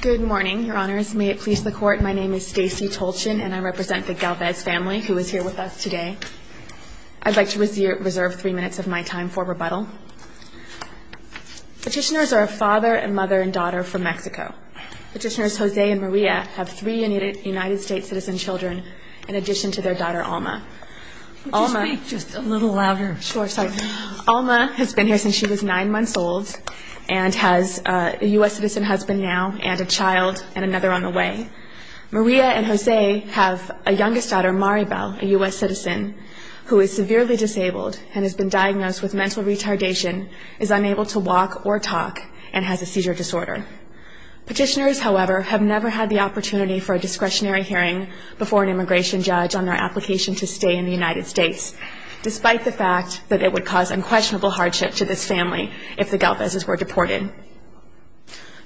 Good morning, Your Honors. May it please the Court, my name is Stacey Tolchin and I represent the Galvez family who is here with us today. I'd like to reserve three minutes of my time for rebuttal. Petitioners are a father and mother and daughter from Mexico. Petitioners Jose and Maria have three United States citizen children in addition to their daughter Alma. Could you speak just a little louder? Sure, sorry. Alma has been here since she was nine months old and has a U.S. citizen husband now and a child and another on the way. Maria and Jose have a youngest daughter Maribel, a U.S. citizen, who is severely disabled and has been diagnosed with mental retardation, is unable to walk or talk, and has a seizure disorder. Petitioners, however, have never had the opportunity for a discretionary hearing before an immigration judge on their application to stay in the United States. Despite the fact that it would cause unquestionable hardship to this family if the Galvez's were deported.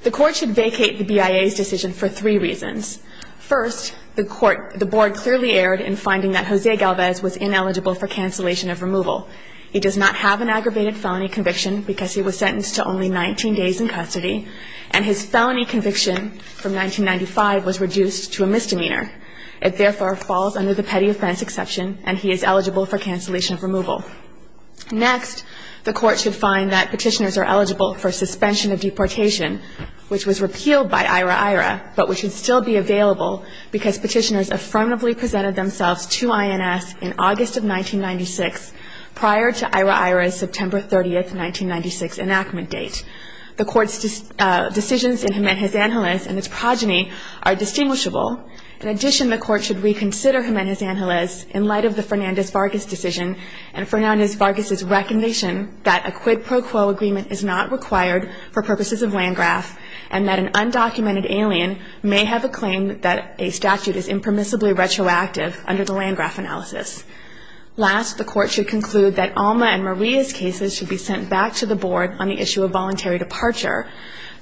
The Court should vacate the BIA's decision for three reasons. First, the Board clearly erred in finding that Jose Galvez was ineligible for cancellation of removal. He does not have an aggravated felony conviction because he was sentenced to only 19 days in custody and his felony conviction from 1995 was reduced to a misdemeanor. It therefore falls under the petty offense exception and he is eligible for cancellation of removal. Next, the Court should find that petitioners are eligible for suspension of deportation, which was repealed by IHRA-IHRA, but which would still be available because petitioners affirmatively presented themselves to INS in August of 1996, prior to IHRA-IHRA's September 30, 1996, enactment date. The Court's decisions in Jiménez-Ángeles and its progeny are distinguishable. In addition, the Court should reconsider Jiménez-Ángeles in light of the Fernández-Vargas decision and Fernández-Vargas' recognition that a quid pro quo agreement is not required for purposes of Landgraf and that an undocumented alien may have a claim that a statute is impermissibly retroactive under the Landgraf analysis. Last, the Court should conclude that Alma and Maria's cases should be sent back to the Board on the issue of voluntary departure.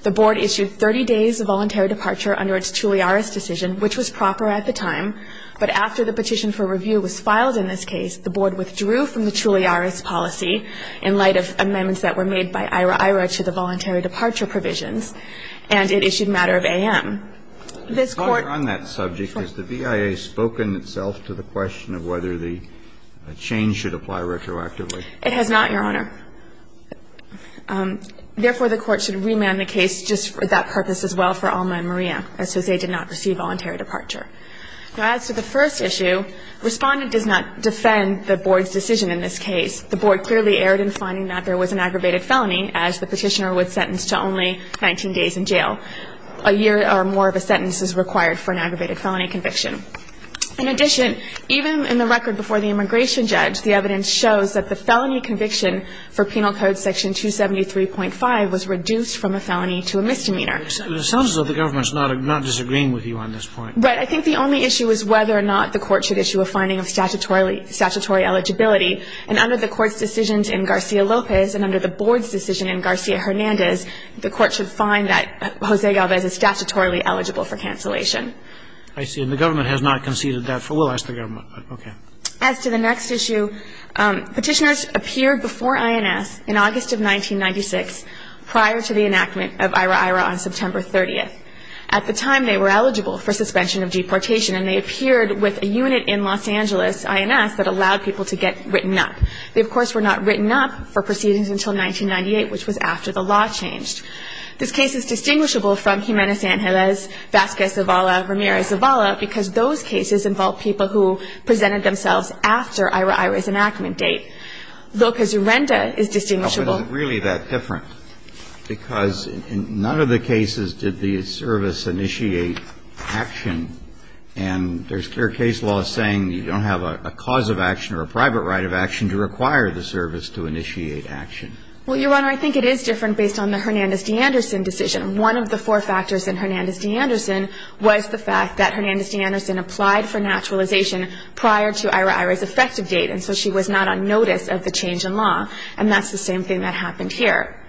The Board issued 30 days of voluntary departure under its Chulliaras decision, which was proper at the time, but after the petition for review was filed in this case, the Board withdrew from the Chulliaras policy in light of amendments that were made by IHRA-IHRA to the voluntary departure provisions, and it issued matter of A.M. This Court On that subject, has the BIA spoken itself to the question of whether the change should apply retroactively? It has not, Your Honor. Therefore, the Court should remand the case just for that purpose as well for Alma and Maria, as to say they did not receive voluntary departure. Now, as to the first issue, Respondent does not defend the Board's decision in this case. The Board clearly erred in finding that there was an aggravated felony, as the petitioner was sentenced to only 19 days in jail. A year or more of a sentence is required for an aggravated felony conviction. In addition, even in the record before the immigration judge, the evidence shows that the felony conviction for Penal Code Section 273.5 was reduced from a felony to a misdemeanor. It sounds as though the government is not disagreeing with you on this point. Right. I think the only issue is whether or not the Court should issue a finding of statutory eligibility, and under the Court's decisions in Garcia-Lopez and under the Board's decision in Garcia-Hernandez, the Court should find that Jose Galvez is statutorily eligible for cancellation. I see. And the government has not conceded that. We'll ask the government. Okay. As to the next issue, petitioners appeared before INS in August of 1996, prior to the enactment of IHRA-IHRA on September 30th. At the time, they were eligible for suspension of deportation, and they appeared with a unit in Los Angeles, INS, that allowed people to get written up. They, of course, were not written up for proceedings until 1998, which was after the law changed. This case is distinguishable from Jimenez-Angeles, Vasquez-Zavala, Ramirez-Zavala because those cases involved people who presented themselves after IHRA-IHRA's enactment date. Lopez-Urrenda is distinguishable. But what is really that different? Because in none of the cases did the service initiate action, and there's clear case that the service initiated action. And so, in this case, the law is saying you don't have a cause of action or a private right of action to require the service to initiate action. Well, Your Honor, I think it is different based on the Hernandez-D'Anderson decision. One of the four factors in Hernandez-D'Anderson was the fact that Hernandez-D'Anderson applied for naturalization prior to IHRA-IHRA's effective date, and so she was not on notice of the change in law. And that's the same thing that happened here.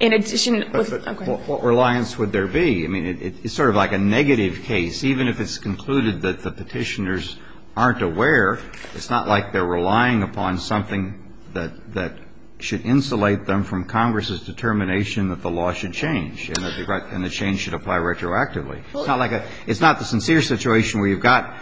In addition, okay. But what reliance would there be? I mean, it's sort of like a negative case. Even if it's concluded that the Petitioners aren't aware, it's not like they're relying upon something that should insulate them from Congress's determination that the law should change and that the change should apply retroactively. It's not like a – it's not the sincere situation where you've got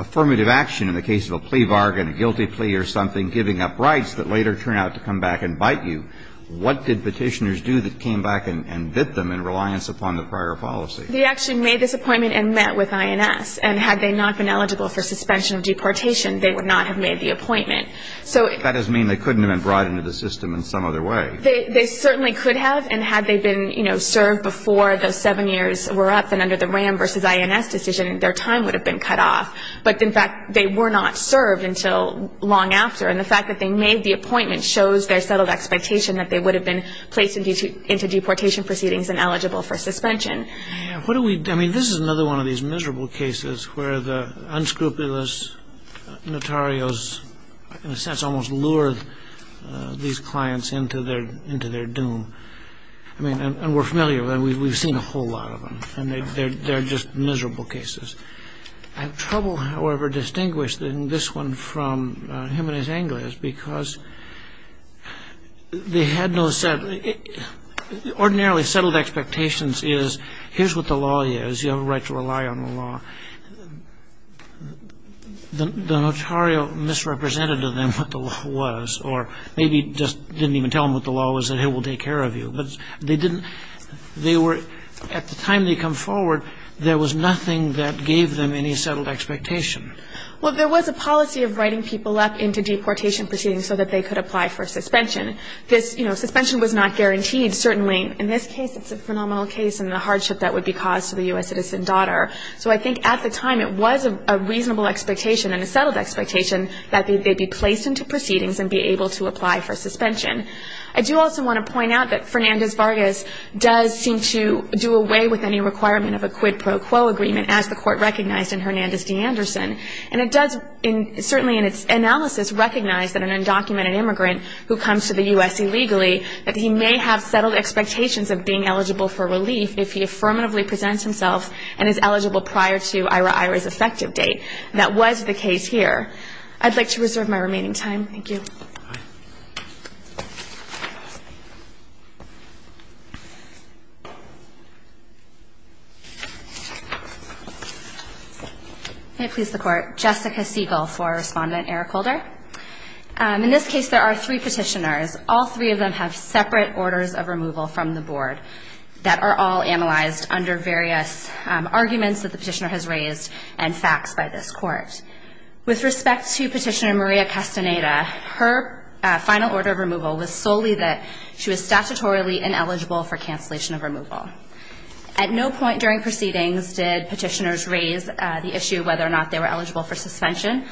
affirmative action in the case of a plea bargain, a guilty plea or something giving up rights that later turn out to come back and bite you. What did Petitioners do that came back and bit them in reliance upon the prior policy? They actually made this appointment and met with INS. And had they not been eligible for suspension of deportation, they would not have made the appointment. That doesn't mean they couldn't have been brought into the system in some other way. They certainly could have. And had they been, you know, served before those seven years were up and under the RAM versus INS decision, their time would have been cut off. But, in fact, they were not served until long after. And the fact that they made the appointment shows their settled expectation that they would have been placed into deportation proceedings and eligible for suspension. What do we – I mean, this is another one of these miserable cases where the unscrupulous notarios in a sense almost lure these clients into their doom. I mean, and we're familiar with them. We've seen a whole lot of them. And they're just miserable cases. I have trouble, however, distinguishing this one from him and his anglers because they had no – ordinarily settled expectations is here's what the law is. You have a right to rely on the law. The notario misrepresented to them what the law was or maybe just didn't even tell them what the law was and, hey, we'll take care of you. But they didn't – they were – at the time they come forward, there was nothing that gave them any settled expectation. Well, there was a policy of writing people up into deportation proceedings so that they could apply for suspension. This – you know, suspension was not guaranteed. Certainly in this case it's a phenomenal case and the hardship that would be caused to the U.S. citizen daughter. So I think at the time it was a reasonable expectation and a settled expectation that they'd be placed into proceedings and be able to apply for suspension. I do also want to point out that Fernandez-Vargas does seem to do away with any requirement of a quid pro quo agreement, as the court recognized in Hernandez v. Anderson. And it does certainly in its analysis recognize that an undocumented immigrant who comes to the U.S. illegally, that he may have settled expectations of being eligible for relief if he affirmatively presents himself and is eligible prior to IRA-IRA's effective date. That was the case here. I'd like to reserve my remaining time. Thank you. Thank you. May it please the Court. Jessica Siegel for Respondent Eric Holder. In this case there are three petitioners. All three of them have separate orders of removal from the Board that are all analyzed under various arguments that the petitioner has raised and facts by this Court. With respect to Petitioner Maria Castaneda, her final order of removal was solely that she was statutorily ineligible for cancellation of removal. At no point during proceedings did petitioners raise the issue whether or not they were eligible for suspension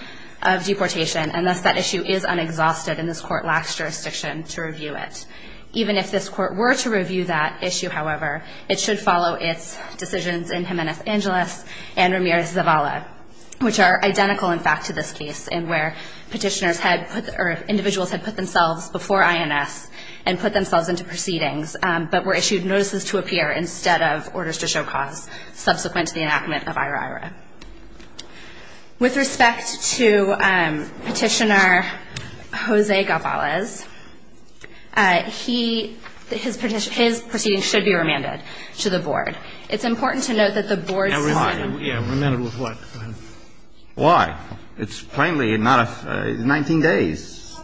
of deportation, and thus that issue is unexhausted, and this Court lacks jurisdiction to review it. Even if this Court were to review that issue, however, it should follow its decisions in Jimenez Angeles and Ramirez Zavala, which are identical in fact to this case in where petitioners had put or individuals had put themselves before INS and put themselves into proceedings, but were issued notices to appear instead of orders to show cause subsequent to the enactment of IRA-IRA. With respect to Petitioner Jose Gavalez, his proceedings should be remanded to the Board. It's important to note that the Board's plan Why? It's plainly not a 19 days.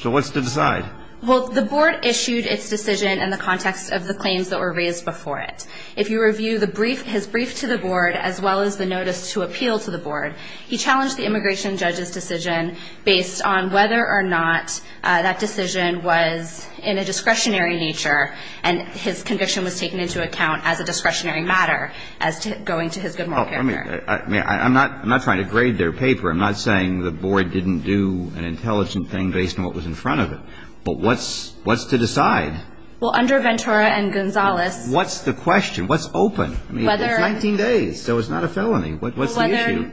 So what's to decide? Well, the Board issued its decision in the context of the claims that were raised before it. If you review the brief, his brief to the Board, as well as the notice to appeal to the Board, he challenged the immigration judge's decision based on whether or not that decision was in a discretionary nature, and his conviction was taken into account as a discretionary matter as to going to his good moral character. I'm not trying to grade their paper. I'm not saying the Board didn't do an intelligent thing based on what was in front of it. But what's to decide? Well, under Ventura and Gonzalez What's the question? What's open? It's 19 days. So it's not a felony. What's the issue?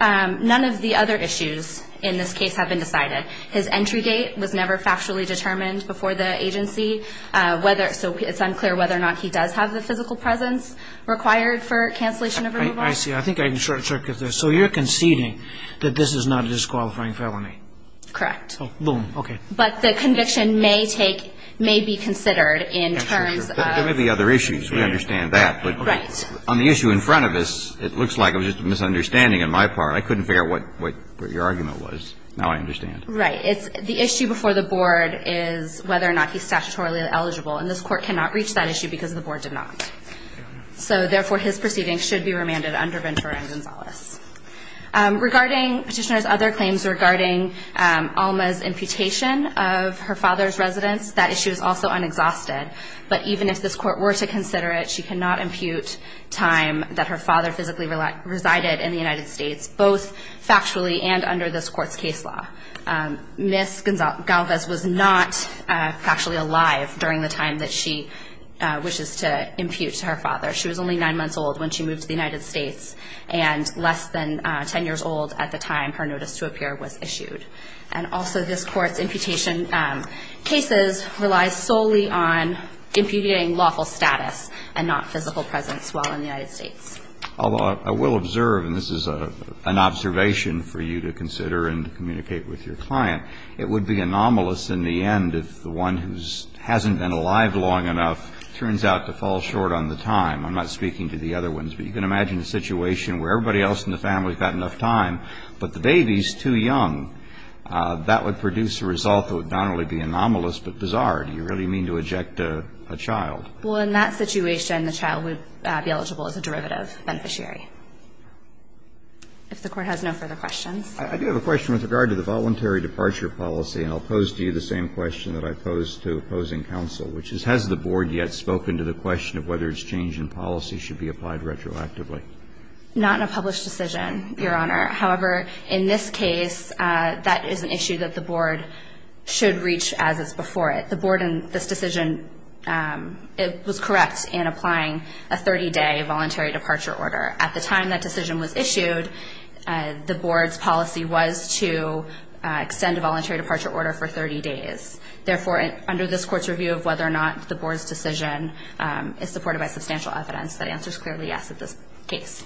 None of the other issues in this case have been decided. His entry date was never factually determined before the agency, so it's unclear whether or not he does have the physical presence required for the cancellation of removal. I see. I think I can short-circuit this. So you're conceding that this is not a disqualifying felony? Correct. Oh, boom. Okay. But the conviction may take, may be considered in terms of There may be other issues. We understand that. Right. But on the issue in front of us, it looks like it was just a misunderstanding on my part. I couldn't figure out what your argument was. Now I understand. Right. It's the issue before the Board is whether or not he's statutorily eligible, and this Court cannot reach that issue because the Board did not. So, therefore, his proceeding should be remanded under Ventura and Gonzalez. Regarding Petitioner's other claims regarding Alma's imputation of her father's residence, that issue is also unexhausted. But even if this Court were to consider it, she cannot impute time that her father physically resided in the United States, both factually and under this Court's case law. Ms. Galvez was not factually alive during the time that she wishes to impute to her father. She was only nine months old when she moved to the United States, and less than 10 years old at the time her notice to appear was issued. And also this Court's imputation cases relies solely on imputing lawful status and not physical presence while in the United States. Although I will observe, and this is an observation for you to consider and to communicate with your client, it would be anomalous in the end if the one who hasn't been alive long enough turns out to fall short on the time. I'm not speaking to the other ones, but you can imagine a situation where everybody else in the family has had enough time, but the baby is too young. That would produce a result that would not only be anomalous, but bizarre. Do you really mean to eject a child? Well, in that situation, the child would be eligible as a derivative beneficiary. If the Court has no further questions. I do have a question with regard to the voluntary departure policy, and I'll pose to you the same question that I posed to opposing counsel, which is has the Board yet spoken to the question of whether its change in policy should be applied retroactively? Not in a published decision, Your Honor. However, in this case, that is an issue that the Board should reach as is before it. The Board in this decision was correct in applying a 30-day voluntary departure order. Therefore, under this Court's review of whether or not the Board's decision is supported by substantial evidence, that answer is clearly yes in this case.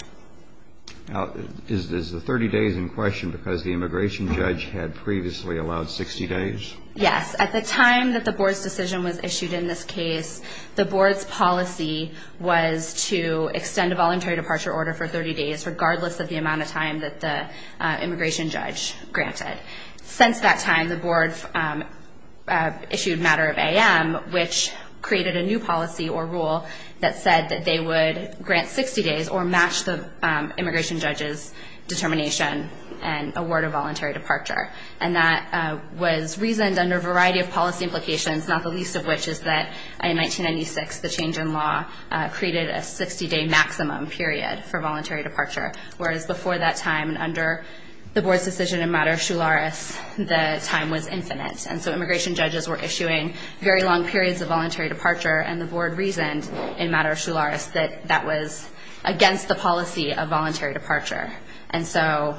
Now, is the 30 days in question because the immigration judge had previously allowed 60 days? Yes. At the time that the Board's decision was issued in this case, the Board's policy was to extend a voluntary departure order for 30 days, regardless of the amount of time that the immigration judge granted. Since that time, the Board issued matter of AM, which created a new policy or rule that said that they would grant 60 days or match the immigration judge's determination and award a voluntary departure. And that was reasoned under a variety of policy implications, not the least of which is that in 1996, the change in law created a 60-day maximum period for voluntary departure, whereas before that time and under the Board's decision in matter of Shularis, the time was infinite. And so immigration judges were issuing very long periods of voluntary departure and the Board reasoned in matter of Shularis that that was against the policy of voluntary departure. And so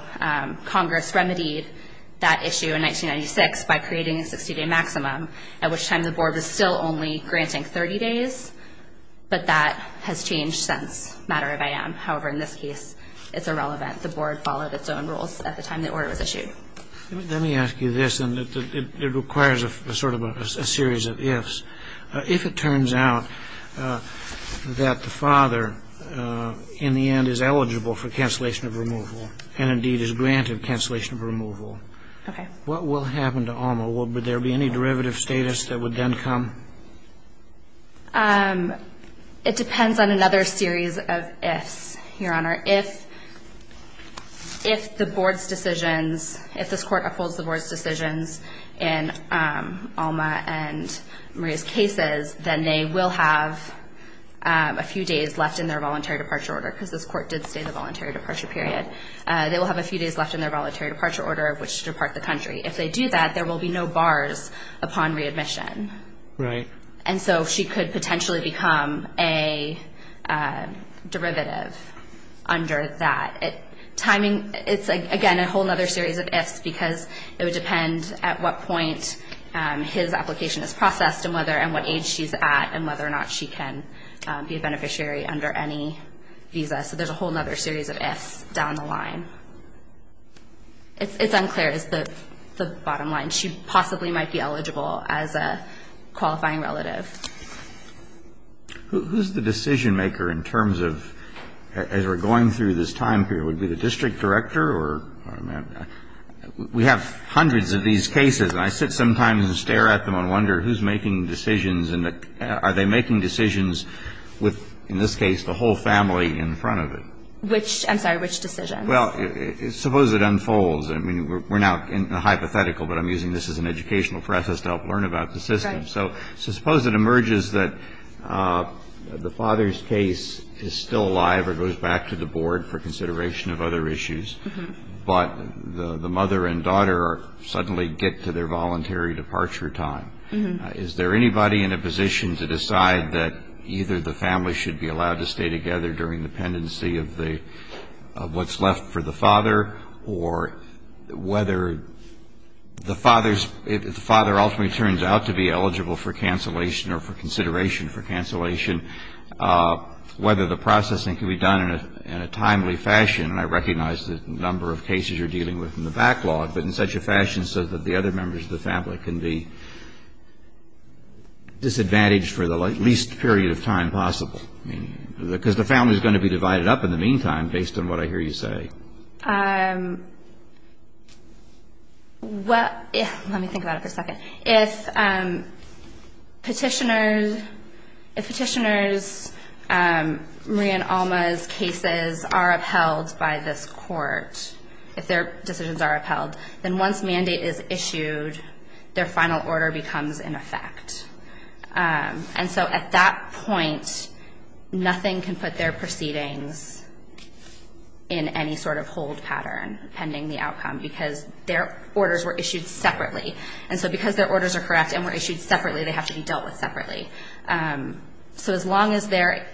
Congress remedied that issue in 1996 by creating a 60-day maximum, at which time the Board was still only granting 30 days, but that has changed since matter of AM. However, in this case, it's irrelevant. The Board followed its own rules at the time the order was issued. Let me ask you this, and it requires a sort of a series of ifs. If it turns out that the father in the end is eligible for cancellation of removal and indeed is granted cancellation of removal, what will happen to Alma? Would there be any derivative status that would then come? It depends on another series of ifs, Your Honor. If the Board's decisions, if this Court upholds the Board's decisions in Alma and Maria's cases, then they will have a few days left in their voluntary departure order because this Court did say the voluntary departure period. They will have a few days left in their voluntary departure order of which to depart the country. If they do that, there will be no bars upon readmission. Right. And so she could potentially become a derivative under that. It's, again, a whole other series of ifs because it would depend at what point his application is processed and what age she's at and whether or not she can be a beneficiary under any visa. So there's a whole other series of ifs down the line. It's unclear is the bottom line. So I'm not sure. But I'm not sure at this point, Your Honor, that she possibly might be eligible as a qualifying relative. Who's the decision maker in terms of as we're going through this time period? Would it be the District Director or? We have hundreds of these cases, and I sit sometimes and stare at them and wonder who's making decisions and are they making decisions with, in this case, the whole family in front of it? Which, I'm sorry, which decisions? Well, suppose it unfolds. I mean, we're now in the hypothetical, but I'm using this as an educational process to help learn about the system. So suppose it emerges that the father's case is still alive or goes back to the board for consideration of other issues, but the mother and daughter suddenly get to their voluntary departure time. Is there anybody in a position to decide that either the family should be allowed to stay together during the pendency of what's left for the father or whether the father ultimately turns out to be eligible for cancellation or for consideration for cancellation, whether the processing can be done in a timely fashion. And I recognize the number of cases you're dealing with in the backlog, but in such a fashion so that the other members of the family can be disadvantaged for the least period of time possible. I mean, because the family is going to be divided up in the meantime based on what I hear you say. Well, let me think about it for a second. If petitioners' Maria and Alma's cases are upheld by this court, if their decisions are upheld, then once mandate is issued, their final order becomes in effect. And so at that point, nothing can put their proceedings in any sort of hold pattern pending the outcome because their orders were issued separately. And so because their orders are correct and were issued separately, they have to be dealt with separately. So as long as they're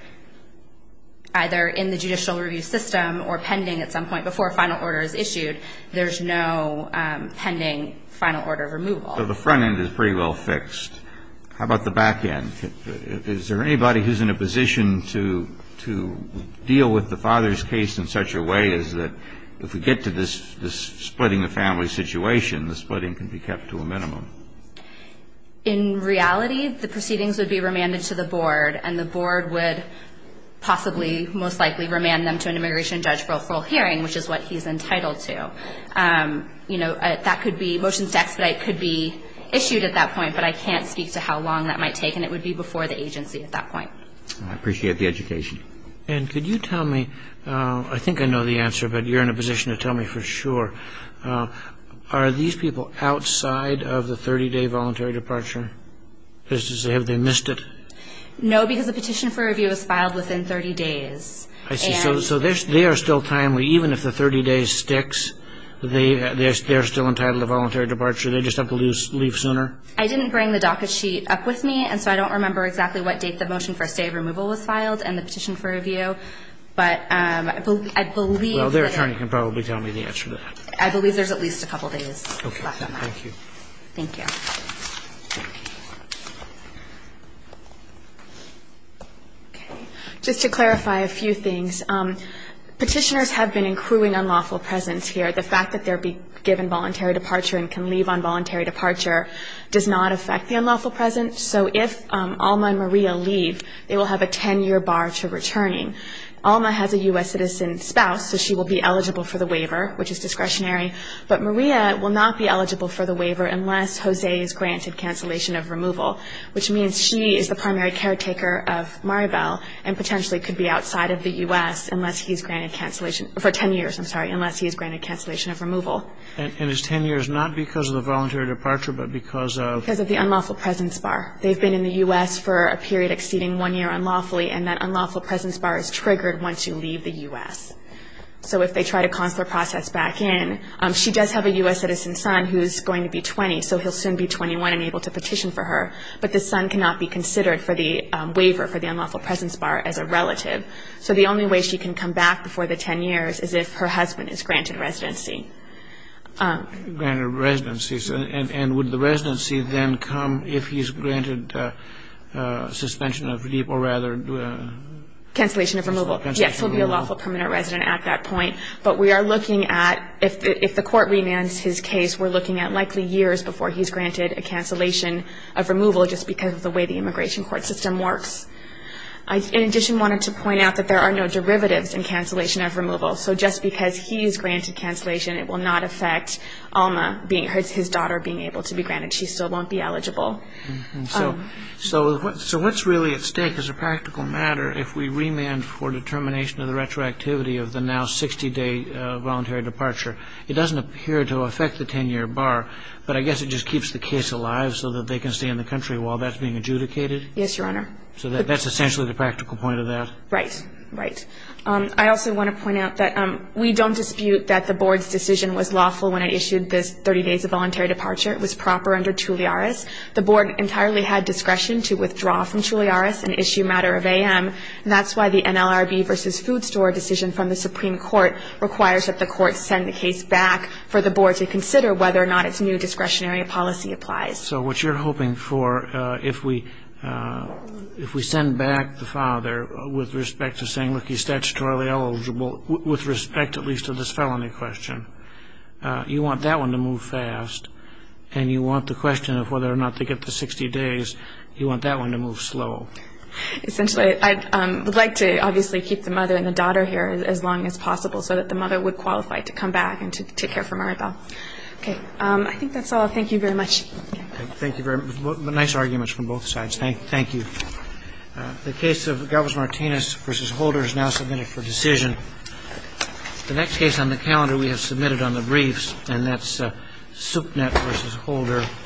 either in the judicial review system or pending at some point before a final order is issued, there's no pending final order removal. So the front end is pretty well fixed. How about the back end? Is there anybody who's in a position to deal with the father's case in such a way as that if we get to this splitting the family situation, the splitting can be kept to a minimum? In reality, the proceedings would be remanded to the board, and the board would possibly most likely remand them to an immigration judge for a full hearing, which is what he's entitled to. You know, that could be motions to expedite could be issued at that point, but I can't speak to how long that might take, and it would be before the agency at that point. I appreciate the education. And could you tell me, I think I know the answer, but you're in a position to tell me for sure, are these people outside of the 30-day voluntary departure? Have they missed it? No, because the petition for review is filed within 30 days. I see. So they are still timely. Even if the 30 days sticks, they're still entitled to voluntary departure. They just have to leave sooner? I didn't bring the docket sheet up with me, and so I don't remember exactly what date the motion for a stay of removal was filed and the petition for review. But I believe that they're at least a couple days. Okay. Thank you. Thank you. Okay. Just to clarify a few things. Petitioners have been accruing unlawful presence here. The fact that they're given voluntary departure and can leave on voluntary departure does not affect the unlawful presence. So if Alma and Maria leave, they will have a 10-year bar to returning. Alma has a U.S. citizen spouse, so she will be eligible for the waiver, which is discretionary. But Maria will not be eligible for the waiver unless Jose is granted cancellation of removal, which means she is the primary caretaker of Maribel and potentially could be outside of the U.S. for 10 years, I'm sorry, unless he is granted cancellation of removal. And it's 10 years not because of the voluntary departure, but because of? Because of the unlawful presence bar. They've been in the U.S. for a period exceeding one year unlawfully, and that unlawful presence bar is triggered once you leave the U.S. So if they try to consular process back in, she does have a U.S. citizen son who is going to be 20, so he'll soon be 21 and able to petition for her. But the son cannot be considered for the waiver for the unlawful presence bar as a relative. So the only way she can come back before the 10 years is if her husband is granted residency. Granted residency. And would the residency then come if he's granted suspension of leave or rather? Cancellation of removal. Yes, he'll be a lawful permanent resident at that point. But we are looking at, if the Court remands his case, we're looking at likely years before he's granted a cancellation of removal just because of the way the immigration court system works. In addition, I wanted to point out that there are no derivatives in cancellation of removal. So just because he's granted cancellation, it will not affect Alma, his daughter, being able to be granted. She still won't be eligible. So what's really at stake as a practical matter if we remand for determination of the retroactivity of the now 60-day voluntary departure? It doesn't appear to affect the 10-year bar, but I guess it just keeps the case alive so that they can stay in the country while that's being adjudicated? Yes, Your Honor. So that's essentially the practical point of that? Right. Right. I also want to point out that we don't dispute that the Board's decision was lawful when it issued this 30 days of voluntary departure. It was proper under Tulliaris. The Board entirely had discretion to withdraw from Tulliaris and issue matter of A.M. And that's why the NLRB v. Food Store decision from the Supreme Court requires that the court send the case back for the Board to consider whether or not its new discretionary policy applies. So what you're hoping for, if we send back the father with respect to saying, look, he's statutorily eligible, with respect at least to this felony question, you want that one to move fast and you want the question of whether or not to get the 60 days, you want that one to move slow. Essentially, I would like to obviously keep the mother and the daughter here as long as possible so that the mother would qualify to come back and to take care of Maribel. Okay. I think that's all. Thank you very much. Thank you very much. Nice arguments from both sides. Thank you. The case of Galvez-Martinez v. Holder is now submitted for decision. The next case on the calendar we have submitted on the briefs, and that's Supnet v. Holder.